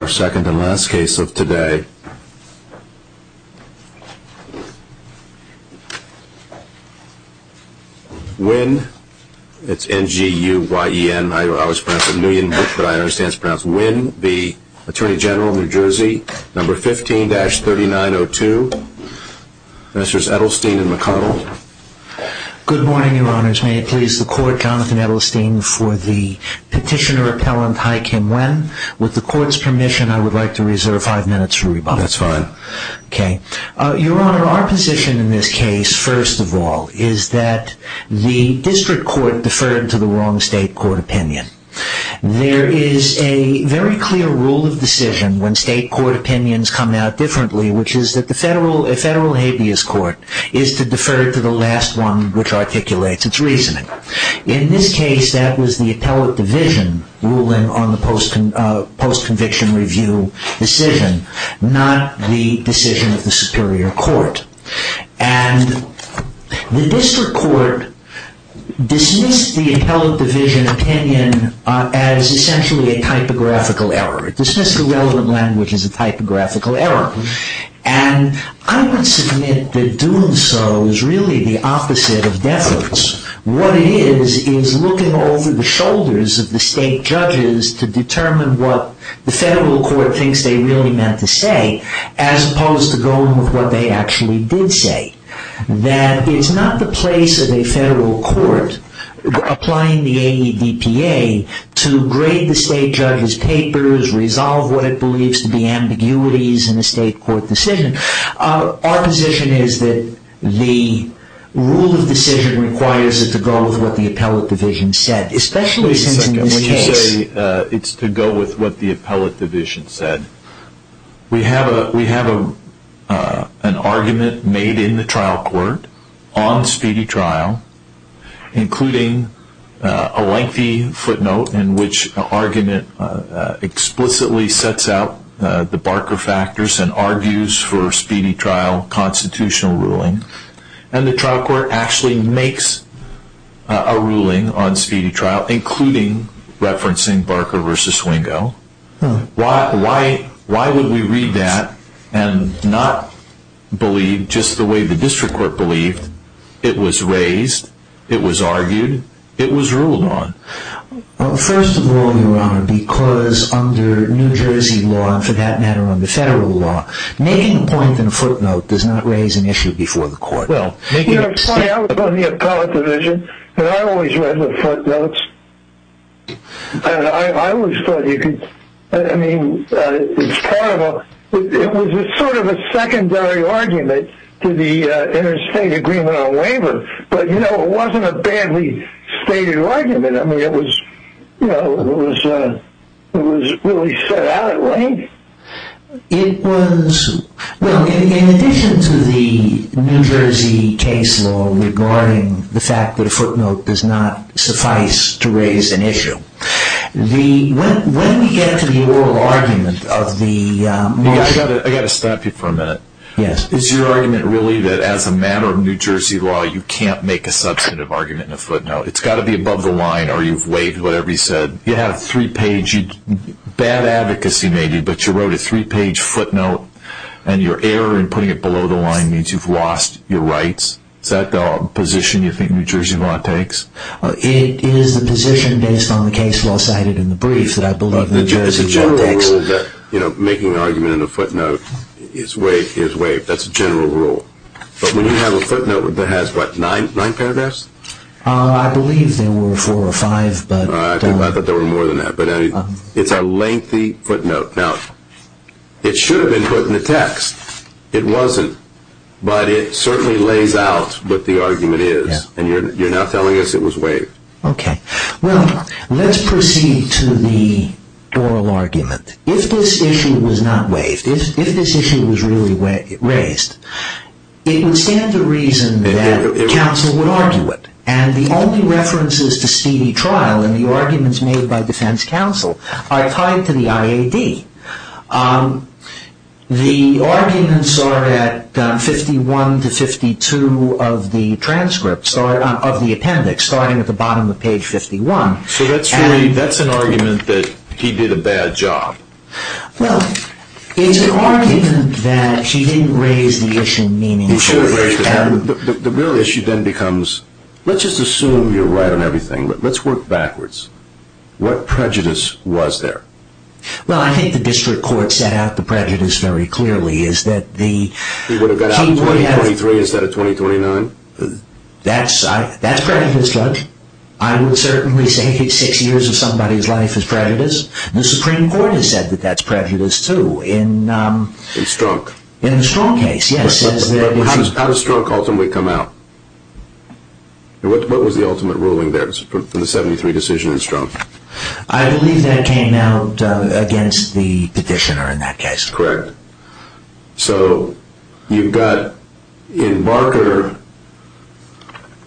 15-3902, Mr. Edelstein and McConnell. Good morning, Your Honors. May it please the Court, Jonathan Edelstein, for the Petitioner Appellant, Hai Kim Nguyen. With the Court's permission, I would like to reserve five minutes for rebuttal. That's fine. Okay. Your Honor, our position in this case, first of all, is that the district court deferred to the wrong state court opinion. There is a very clear rule of decision when state court opinions come out differently, which is that the federal habeas court is to defer to the last one which articulates its reasoning. In this case, that was the appellate division ruling on the post-conviction review decision, not the decision of the superior court. And the district court dismissed the appellate division opinion as essentially a typographical error. It dismissed the relevant language as a typographical error. And I would submit that doing so is really the opposite of deference. What it is, is looking over the shoulders of the state judges to determine what the federal court thinks they really meant to say, as opposed to going with what they actually did say. That it's not the place of a federal court, applying the AEDPA, to grade the state judge's papers, resolve what it believes to be ambiguities in a state court decision. Our position is that the rule of decision requires it to go with what the appellate division said, especially since in this case... Wait a second. When you say it's to go with what the appellate division said, we have an argument made in the trial court on Speedy Trial, including a lengthy footnote in which the argument explicitly sets out the Barker factors and argues for Speedy Trial constitutional ruling. And the trial court actually makes a ruling on Speedy Trial, including referencing Barker v. Swingo. Why would we read that and not believe just the way the district court it was raised, it was argued, it was ruled on? First of all, Your Honor, because under New Jersey law, and for that matter under federal law, making a point in a footnote does not raise an issue before the court. Well, you're right. I was on the appellate division, and I always read the footnotes. I always thought you could... I mean, it's part of a... it was a sort of a secondary argument to the interstate agreement on waiver, but you know, it wasn't a badly stated argument. I mean, it was, you know, it was really set out at length. It was... well, in addition to the New Jersey case law regarding the fact that a footnote does not suffice to raise an issue, the... when we get to the oral argument of the... I've got to stop you for a minute. Yes. Is your argument really that as a matter of New Jersey law, you can't make a substantive argument in a footnote? It's got to be above the line, or you've waived whatever he said. You have a three-page... bad advocacy maybe, but you wrote a three-page footnote, and your error in putting it below the line means you've lost your rights. Is that the position you want to take? It is the position based on the case law cited in the brief that I believe... It's a general rule that, you know, making an argument in a footnote is waived. That's a general rule. But when you have a footnote that has, what, nine paragraphs? I believe there were four or five, but... I thought there were more than that, but it's a lengthy footnote. Now, it should have been put in the text. It wasn't, but it certainly lays out what the argument is, and you're now telling us it was waived. Okay. Well, let's proceed to the oral argument. If this issue was not waived, if this issue was really raised, it would stand to reason that counsel would argue it, and the only references to speedy trial in the arguments made by defense counsel are tied to the IAD. The arguments are at 51 to 52 of the transcripts, of the appendix, starting at the bottom of page 51. So that's really, that's an argument that he did a bad job. Well, it's an argument that he didn't raise the issue meaningfully. He should have raised it. The real issue then becomes, let's just assume you're right on everything, but let's work backwards. What prejudice was there? Well, I think the district court set out the prejudice very clearly. He would have got out in 2023 instead of 2029? That's prejudice, Judge. I would certainly say six years of somebody's life is prejudice. The Supreme Court has said that that's prejudice, too. In Strunk? In the Strunk case, yes. How does Strunk ultimately come out? What was the ultimate ruling there in the 73 decision in Strunk? I believe that came out against the petitioner in that case. Correct. So you've got, in Barker,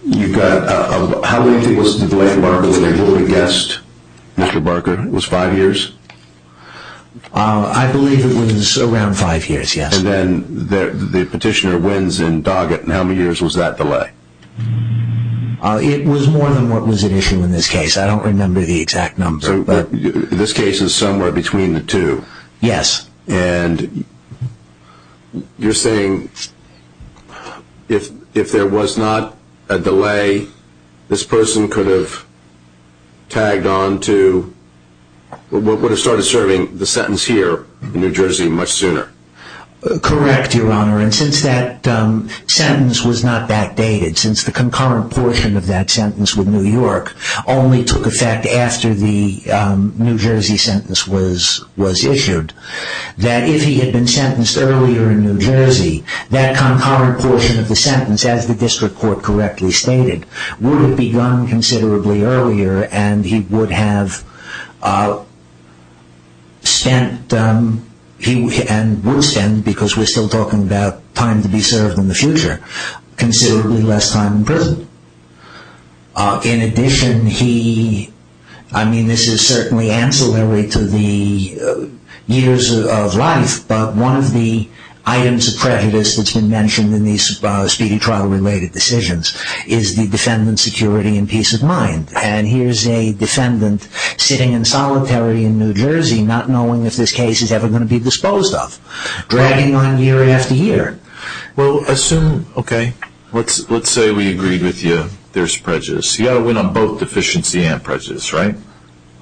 you've got, how many people's delay in Barker? Would you have guessed, Mr. Barker, it was five years? I believe it was around five years, yes. And then the petitioner wins in Doggett, and how many years was that delay? It was more than what was at issue in this case. I don't remember the exact number. So this case is somewhere between the two? Yes. And you're saying if there was not a delay, this person could have tagged on to what would have started serving the sentence here in New Jersey much sooner? Correct, Your Honor, and since that sentence was not that dated, since the concurrent portion of that sentence with New York only took effect after the New Jersey sentence was issued, that if he had been sentenced earlier in New Jersey, that concurrent portion of the sentence, as the district court correctly stated, would have begun considerably earlier, and he would have spent, and would spend, because we're still talking about time to be served in the future, considerably less time in prison. In addition, he, I mean, this is certainly ancillary to the years of life, but one of the items of prejudice that's been mentioned in these speedy trial-related decisions is the defendant's security and peace of mind. And here's a defendant sitting in solitary in New Jersey, not knowing if this case is ever going to be disposed of, dragging on year after year. Well, assume, okay, let's say we agreed with you, there's prejudice. You've got to win on both deficiency and prejudice, right?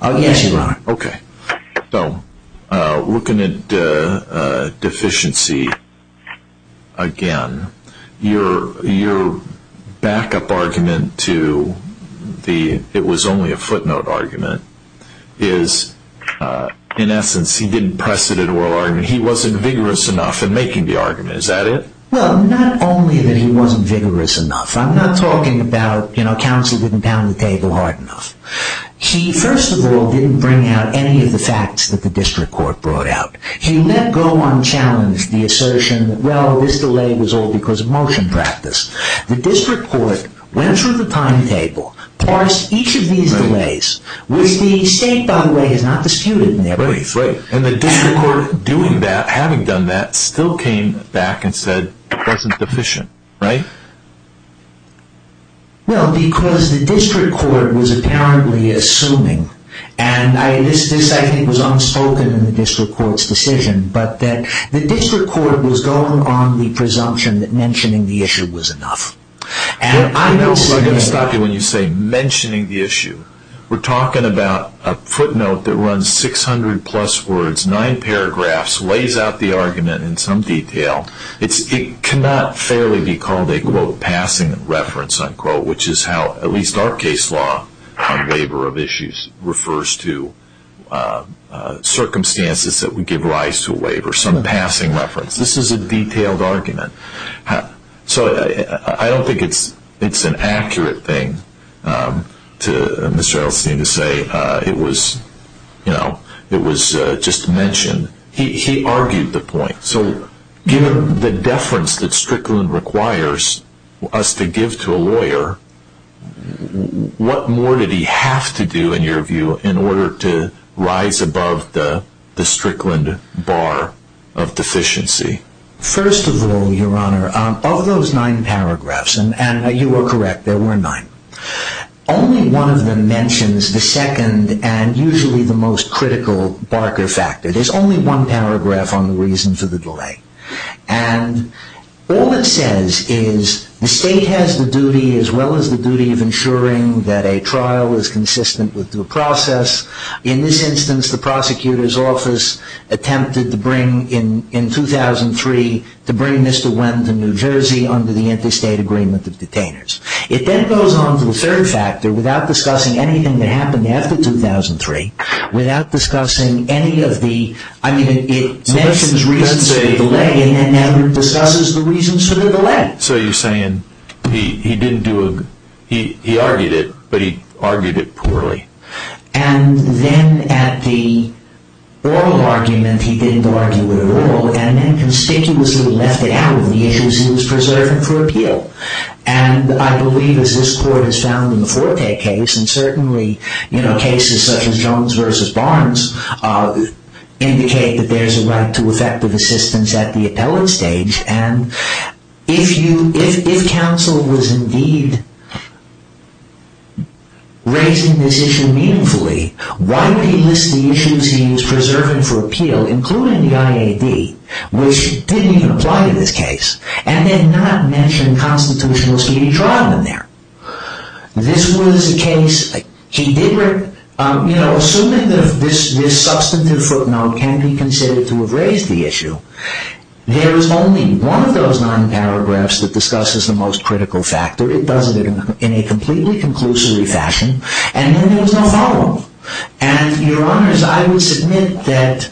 Yes, Your Honor. Okay. So, looking at deficiency, again, your backup argument to the, it was only a footnote argument, is, in essence, he didn't precedent oral argument. He wasn't vigorous enough in making the argument. Is that it? Well, not only that he wasn't vigorous enough. I'm not talking about, you know, counsel didn't pound the table hard enough. He, first of all, didn't bring out any of the facts that the district court brought out. He let go unchallenged the assertion that, well, this delay was all because of motion practice. The district court went through the timetable, parsed each of these delays, which the state, by the way, has not disputed in their place. Right, right. And the district court, doing that, having done that, still came back and said it wasn't deficient, right? Well, because the district court was apparently assuming, and this, I think, was unspoken in the district court's decision, but that the district court was going on the presumption that mentioning the issue was enough. I know who I'm going to stop you when you say mentioning the issue. We're talking about a footnote that runs 600 plus words, nine paragraphs, lays out the argument in some detail. It cannot fairly be called a, quote, passing reference, unquote, which is how, at least our case law on labor of issues, refers to circumstances that would give rise to labor. Some passing reference. This is a detailed argument. So I don't think it's an accurate thing to say it was just mentioned. He argued the point. So given the deference that Strickland requires us to give to a lawyer, what more did he have to do, in your view, in order to rise above the Strickland bar of deficiency? First of all, Your Honor, of those nine paragraphs, and you are correct, there were nine, only one of them mentions the second and usually the most critical barker factor. There's only one paragraph on the reason for the delay. And all it says is the state has the duty, as well as the duty of ensuring, that a trial is consistent with the process. In this instance, the prosecutor's office attempted to bring, in 2003, to bring Mr. Wendt to New Jersey under the interstate agreement of detainers. It then goes on to the third factor, without discussing anything that happened after 2003, without discussing any of the, I mean, it mentions reasons for the delay and then never discusses the reasons for the delay. So you're saying he didn't do a, he argued it, but he argued it poorly. And then at the oral argument, he didn't argue at all, and then conspicuously left it out of the issues he was preserving for appeal. And I believe, as this Court has found in the Forte case, and certainly, you know, cases such as Jones v. Barnes indicate that there's a right to effective assistance at the appellate stage. And if you, if counsel was indeed raising this issue meaningfully, why did he list the issues he was preserving for appeal, including the IAD, which didn't even apply to this case, and then not mention constitutional speedy trial in there? This was a case, he did, you know, assuming that this substantive footnote can be considered to have raised the issue, there is only one of those nine paragraphs that discusses the most critical factor. It does it in a completely conclusory fashion. And then there was no follow-up. And, Your Honors, I would submit that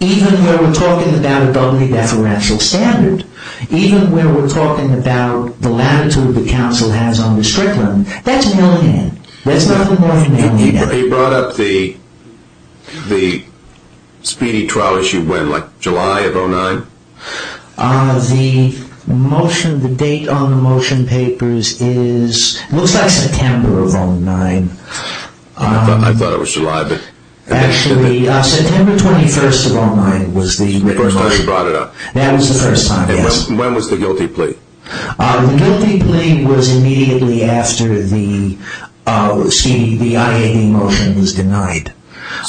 even when we're talking about a doubly deferential standard, even when we're talking about the latitude the counsel has on the Strickland, that's mail-in. That's nothing more than mail-in. He brought up the speedy trial issue when, like July of 2009? The motion, the date on the motion papers is, looks like September of 2009. I thought it was July, but... Actually, September 21st of 2009 was the... The first time he brought it up. That was the first time, yes. And when was the guilty plea? The guilty plea was immediately after the IAB motion was denied.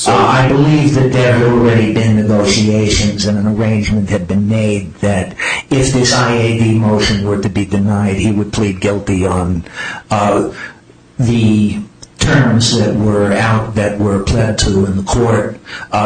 I believe that there had already been negotiations and an arrangement had been made that if this IAB motion were to be denied, he would plead guilty on the terms that were out, that were pled to in the court,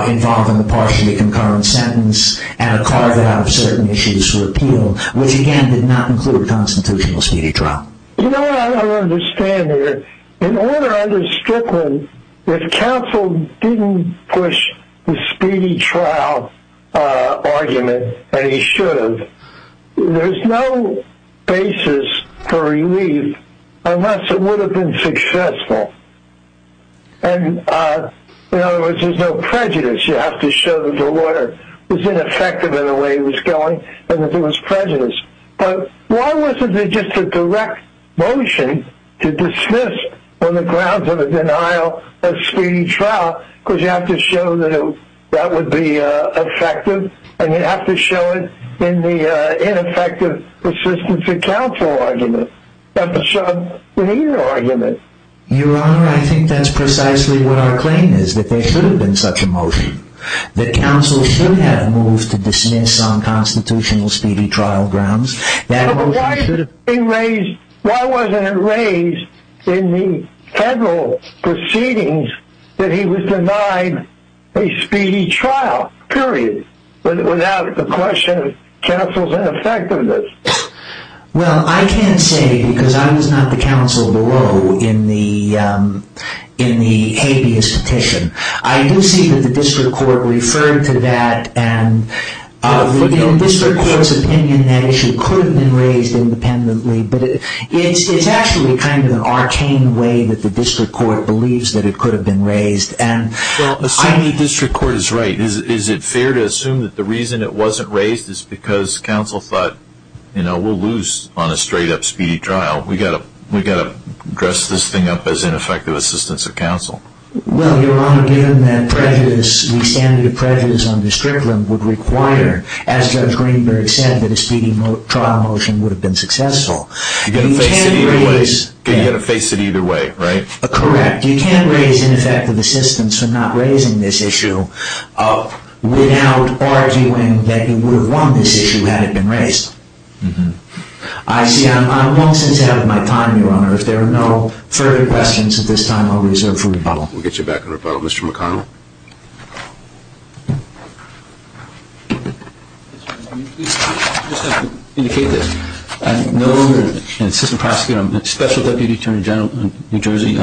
involving a partially concurrent sentence and a carve-out of certain issues for appeal, which, again, did not include a constitutional speedy trial. You know what I don't understand here? In order under Strickland, if counsel didn't push the speedy trial argument, and he should have, there's no basis for relief unless it would have been successful. And, in other words, there's no prejudice. You have to show that the lawyer was ineffective in the way he was going and that there was prejudice. But why wasn't there just a direct motion to dismiss on the grounds of a denial of speedy trial? Because you have to show that that would be effective, and you have to show it in the ineffective assistance of counsel argument. Your Honor, I think that's precisely what our claim is, that there should have been such a motion, that counsel should have moved to dismiss on constitutional speedy trial grounds. Why wasn't it raised in the federal proceedings that he was denied a speedy trial, period, without the question of counsel's ineffectiveness? Well, I can't say because I was not the counsel below in the habeas petition. I do see that the district court referred to that, and in the district court's opinion that issue could have been raised independently, but it's actually kind of an arcane way that the district court believes that it could have been raised. Well, assuming the district court is right, is it fair to assume that the reason it wasn't raised is because counsel thought, you know, we'll lose on a straight-up speedy trial. We've got to dress this thing up as ineffective assistance of counsel. Well, Your Honor, given that prejudice, the standard of prejudice on district land would require, as Judge Greenberg said, that a speedy trial motion would have been successful. You've got to face it either way, right? Correct. You can't raise ineffective assistance for not raising this issue. Without arguing that you would have won this issue had it been raised. Mm-hmm. I see I'm long since out of my time, Your Honor. If there are no further questions at this time, I'll reserve for rebuttal. We'll get you back on rebuttal. Mr. McConnell? I just have to indicate this. I'm no longer an assistant prosecutor. I'm a special deputy attorney general in New Jersey,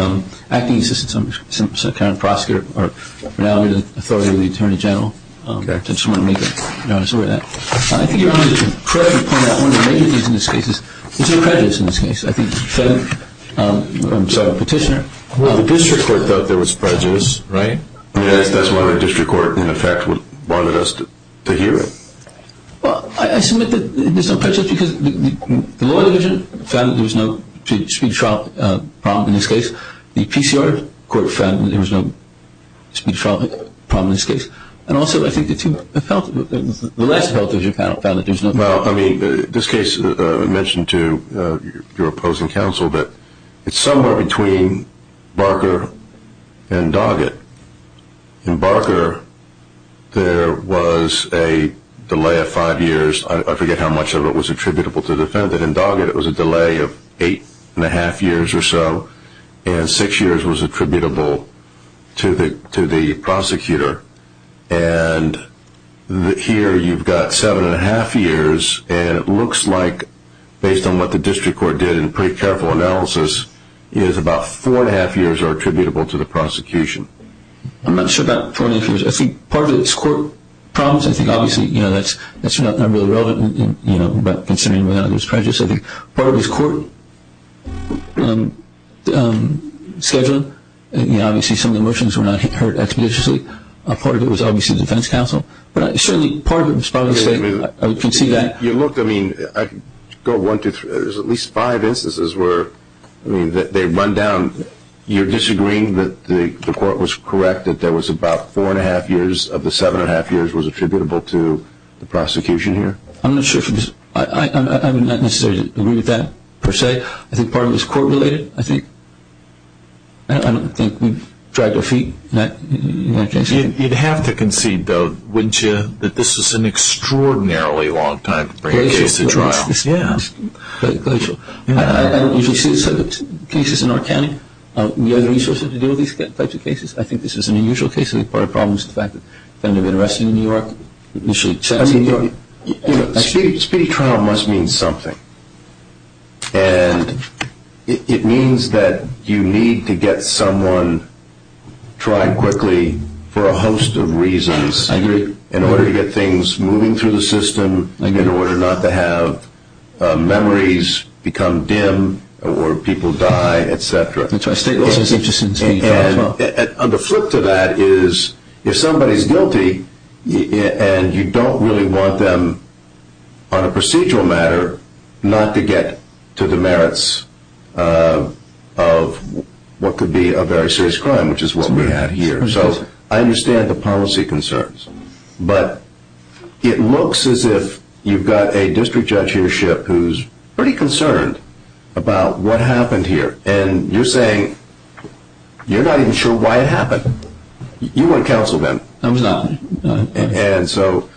acting assistant sub-current prosecutor, or now I'm the authority of the attorney general. Okay. I just wanted to make a note of that. I think, Your Honor, to correct you upon that, one of the major things in this case is there's no prejudice in this case. I think the petitioner. Well, the district court thought there was prejudice, right? I mean, that's why the district court, in effect, wanted us to hear it. Well, I submit that there's no prejudice because the law division found that there was no speedy trial problem in this case. The PCR court found that there was no speedy trial problem in this case. And also, I think the last health division panel found that there's no prejudice. Well, I mean, this case mentioned to your opposing counsel that it's somewhere between Barker and Doggett. In Barker, there was a delay of five years. I forget how much of it was attributable to the defendant. But in Doggett, it was a delay of eight-and-a-half years or so. And six years was attributable to the prosecutor. And here you've got seven-and-a-half years. And it looks like, based on what the district court did in pretty careful analysis, is about four-and-a-half years are attributable to the prosecution. I'm not sure about four-and-a-half years. I think part of it is court problems. I think, obviously, that's not really relevant. But considering whether or not it was prejudice, I think part of it is court scheduling. Obviously, some of the motions were not heard expeditiously. Part of it was obviously the defense counsel. But certainly part of it was probably the state. I can see that. Look, I mean, go one, two, three. There's at least five instances where they run down. You're disagreeing that the court was correct that there was about four-and-a-half years of the seven-and-a-half years was attributable to the prosecution here? I'm not sure. I would not necessarily agree with that per se. I think part of it is court-related. I don't think we've dragged our feet in that case. You'd have to concede, though, wouldn't you, that this is an extraordinarily long time to bring a case to trial? Yeah. I don't usually see cases in our county. We have resources to deal with these types of cases. I think this is an unusual case. Part of the problem is the fact that the defendant had been arrested in New York, initially sent to New York. I mean, speedy trial must mean something. And it means that you need to get someone tried quickly for a host of reasons in order to get things moving through the system, in order not to have memories become dim or people die, et cetera. That's right. It's as interesting as speedy trial as well. On the flip to that is if somebody is guilty and you don't really want them, on a procedural matter, not to get to the merits of what could be a very serious crime, which is what we had here. So I understand the policy concerns. But it looks as if you've got a district judge here, Shipp, who's pretty concerned about what happened here. And you're saying you're not even sure why it happened. You weren't counseled then. I was not. And so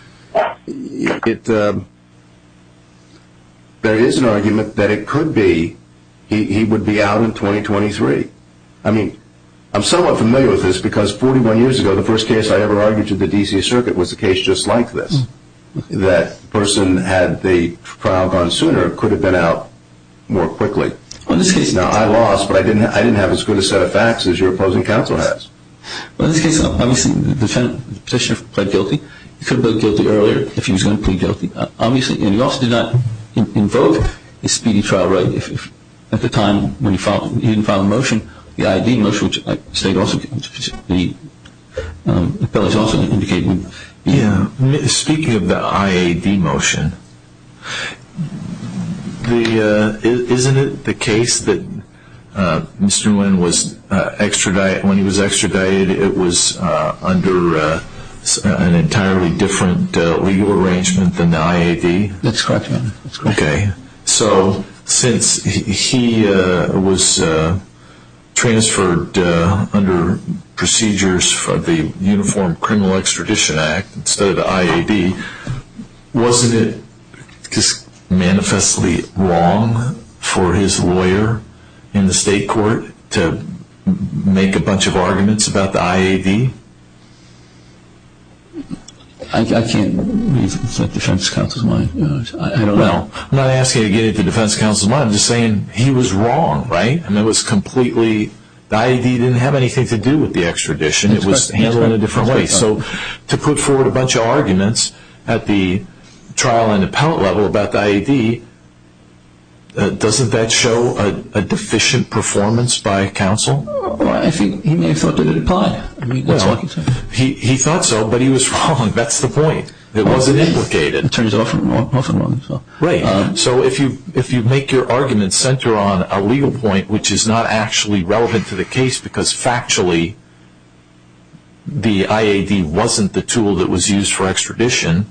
there is an argument that it could be he would be out in 2023. I mean, I'm somewhat familiar with this because 41 years ago, the first case I ever argued to the D.C. Circuit was a case just like this, that the person who had the trial gone sooner could have been out more quickly. Now, I lost, but I didn't have as good a set of facts as your opposing counsel has. Well, in this case, obviously, the petitioner pled guilty. He could have pled guilty earlier if he was going to plead guilty. Obviously, and he also did not invoke the speedy trial right. At the time when he didn't file the motion, the I.A.D. motion, which I state also, the appellate is also indicating. Speaking of the I.A.D. motion, isn't it the case that Mr. Nguyen, when he was extradited, it was under an entirely different legal arrangement than the I.A.D.? Okay, so since he was transferred under procedures for the Uniform Criminal Extradition Act, instead of the I.A.D., wasn't it just manifestly wrong for his lawyer in the state court to make a bunch of arguments about the I.A.D.? I can't really set defense counsel's mind. Well, I'm not asking you to get into defense counsel's mind. I'm just saying he was wrong, right? I mean, it was completely, the I.A.D. didn't have anything to do with the extradition. It was handled in a different way. So to put forward a bunch of arguments at the trial and appellate level about the I.A.D., doesn't that show a deficient performance by counsel? Well, I think he may have thought that it applied. He thought so, but he was wrong. That's the point. It wasn't implicated. It turns out often wrong. Right. So if you make your arguments center on a legal point which is not actually relevant to the case because factually the I.A.D. wasn't the tool that was used for extradition,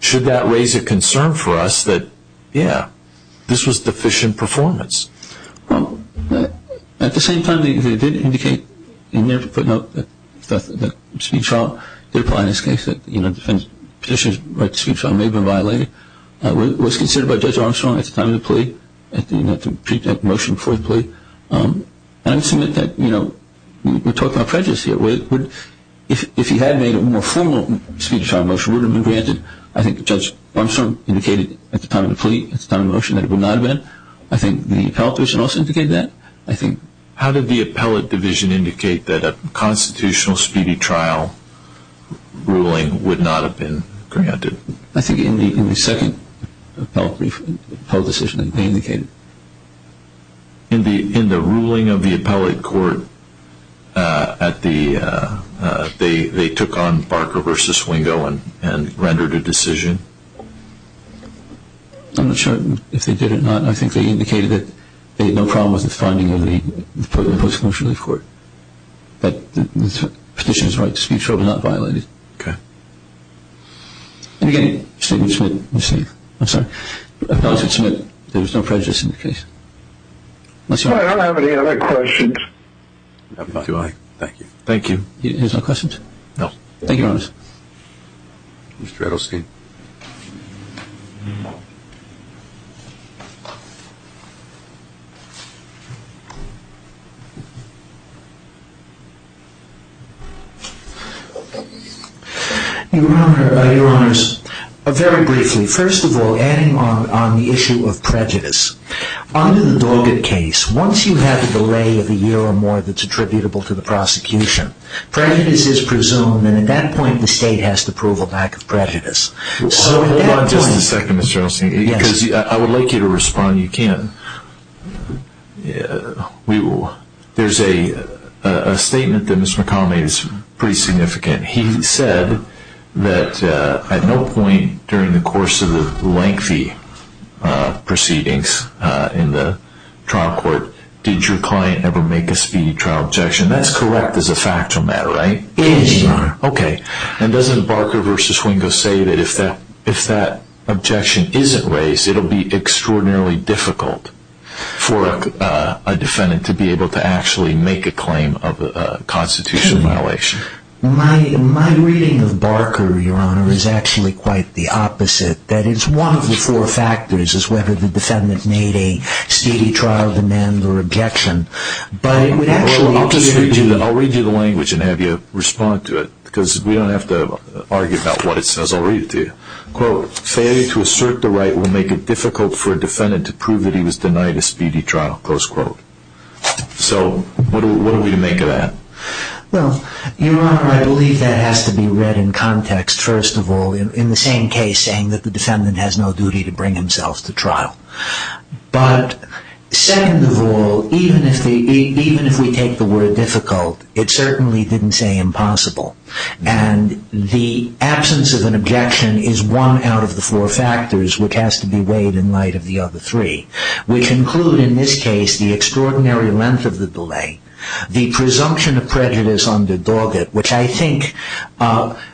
should that raise a concern for us that, yeah, this was deficient performance? Well, at the same time, they did indicate in their footnote that the speech trial, they're applying this case that the defense petitioner's right to speech trial may have been violated. It was considered by Judge Armstrong at the time of the plea, at the motion before the plea. And I would submit that, you know, we're talking about prejudice here. If he had made a more formal speech trial motion, it would have been granted. I think Judge Armstrong indicated at the time of the plea, at the time of the motion, that it would not have been. I think the appellate division also indicated that. How did the appellate division indicate that a constitutional speedy trial ruling would not have been granted? I think in the second appellate decision they indicated. In the ruling of the appellate court, they took on Barker v. Wingo and rendered a decision? I'm not sure if they did or not. I think they indicated that they had no problem with the finding of the post-conviction relief court, that the petitioner's right to speech trial was not violated. Okay. And, again, I would submit there was no prejudice in the case. I don't have any other questions. Do I? Thank you. There's no questions? No. Thank you, Your Honor. Mr. Edelstein. Your Honor, Your Honors, very briefly. First of all, adding on the issue of prejudice, under the Doggett case, once you have the delay of a year or more that's attributable to the prosecution, prejudice is presumed, and at that point the state has to prove a lack of prejudice. Hold on just a second, Mr. Edelstein, because I would like you to respond. You can't. There's a statement that Mr. McConnell made that's pretty significant. He said that at no point during the course of the lengthy proceedings in the trial court did your client ever make a speedy trial objection. That's correct as a factual matter, right? It is, Your Honor. Okay. And doesn't Barker v. Wingo say that if that objection isn't raised, it will be extraordinarily difficult for a defendant to be able to actually make a claim of a constitutional violation? My reading of Barker, Your Honor, is actually quite the opposite. That is, one of the four factors is whether the defendant made a speedy trial demand or objection. I'll read you the language and have you respond to it because we don't have to argue about what it says. I'll read it to you. Quote, failure to assert the right will make it difficult for a defendant to prove that he was denied a speedy trial, close quote. So what do we make of that? Well, Your Honor, I believe that has to be read in context, first of all, in the same case saying that the defendant has no duty to bring himself to trial. But second of all, even if we take the word difficult, it certainly didn't say impossible. And the absence of an objection is one out of the four factors which has to be weighed in light of the other three, which include in this case the extraordinary length of the delay, the presumption of prejudice under Doggett, which I think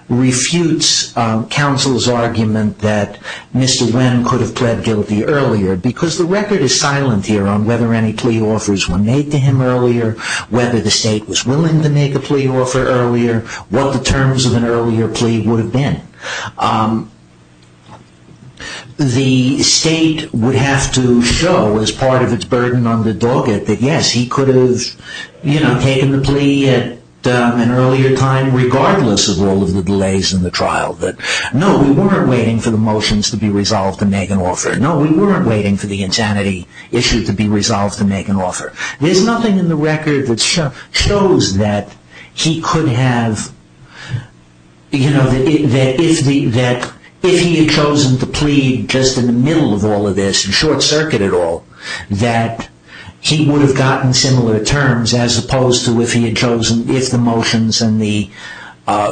refutes counsel's argument that Mr. Wynn could have pled guilty earlier because the record is silent here on whether any plea offers were made to him earlier, whether the state was willing to make a plea offer earlier, what the terms of an earlier plea would have been. The state would have to show as part of its burden under Doggett that, yes, he could have taken the plea at an earlier time regardless of all of the delays in the trial. No, we weren't waiting for the motions to be resolved to make an offer. No, we weren't waiting for the insanity issue to be resolved to make an offer. There's nothing in the record that shows that he could have, that if he had chosen to plead just in the middle of all of this, in short circuit at all, that he would have gotten similar terms as opposed to if he had chosen, if the motions and the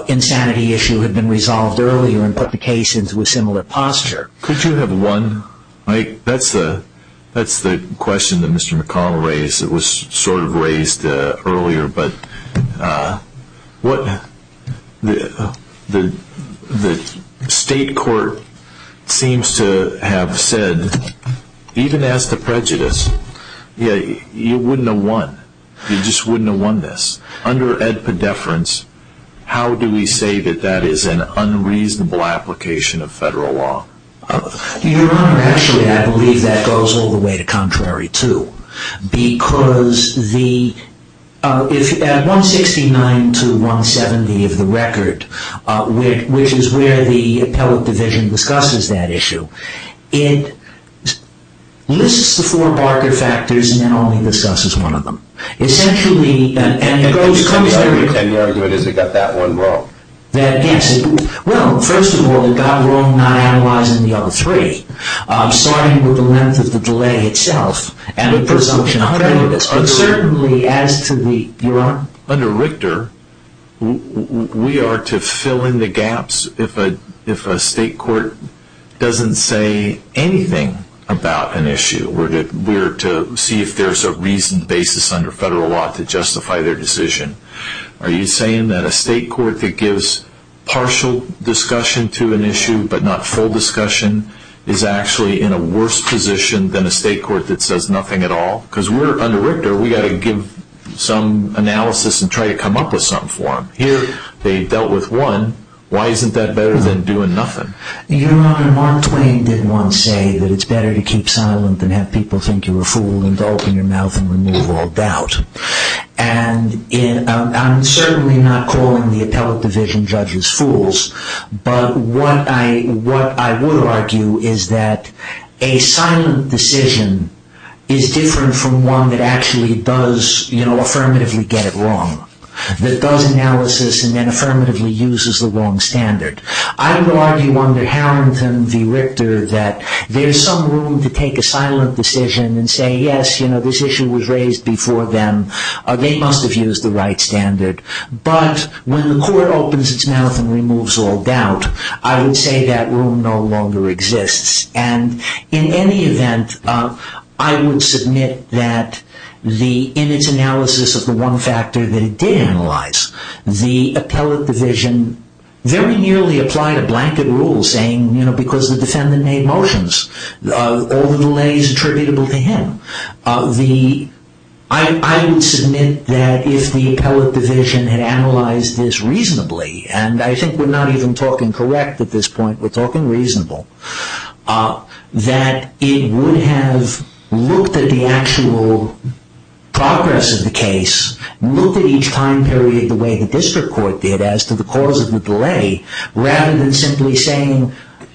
insanity issue had been resolved earlier and put the case into a similar posture. Could you have one, Mike? That's the question that Mr. McConnell raised that was sort of raised earlier, but what the state court seems to have said, even as to prejudice, yeah, you wouldn't have won. You just wouldn't have won this. Under Ed Poddeference, how do we say that that is an unreasonable application of federal law? Your Honor, actually, I believe that goes all the way to contrary, too, because at 169 to 170 of the record, which is where the appellate division discusses that issue, it lists the four Barker factors and then only discusses one of them. And the argument is it got that one wrong. Well, first of all, it got it wrong not analyzing the other three, starting with the length of the delay itself and the presumption of prejudice. But certainly as to the, Your Honor? Under Richter, we are to fill in the gaps if a state court doesn't say anything about an issue. We're to see if there's a reasoned basis under federal law to justify their decision. Are you saying that a state court that gives partial discussion to an issue but not full discussion is actually in a worse position than a state court that says nothing at all? Because under Richter, we've got to give some analysis and try to come up with something for them. Here, they've dealt with one. Why isn't that better than doing nothing? Your Honor, Mark Twain did once say that it's better to keep silent than have people think you're a fool and open your mouth and remove all doubt. And I'm certainly not calling the appellate division judges fools. But what I would argue is that a silent decision is different from one that actually does, you know, affirmatively get it wrong, that does analysis and then affirmatively uses the wrong standard. I would argue under Harrington v. Richter that there's some room to take a silent decision and say, yes, you know, this issue was raised before then. They must have used the right standard. But when the court opens its mouth and removes all doubt, I would say that room no longer exists. And in any event, I would submit that in its analysis of the one factor that it did analyze, the appellate division very nearly applied a blanket rule saying, you know, because the defendant made motions, all the delays attributable to him. I would submit that if the appellate division had analyzed this reasonably, and I think we're not even talking correct at this point, we're talking reasonable, that it would have looked at the actual progress of the case, looked at each time period the way the district court did as to the cause of the delay, rather than simply saying,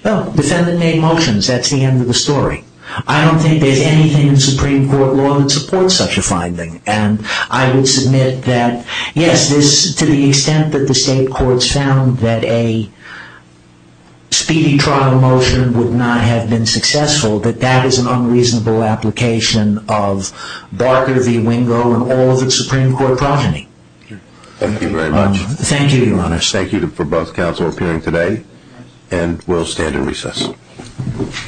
oh, defendant made motions, that's the end of the story. I don't think there's anything in Supreme Court law that supports such a finding. And I would submit that, yes, to the extent that the state courts found that a speedy trial motion would not have been successful, that that is an unreasonable application of Barker v. Wingo and all of its Supreme Court progeny. Thank you very much. Thank you, Your Honor. Thank you very much. Thank you for both counsel appearing today. And we'll stand in recess.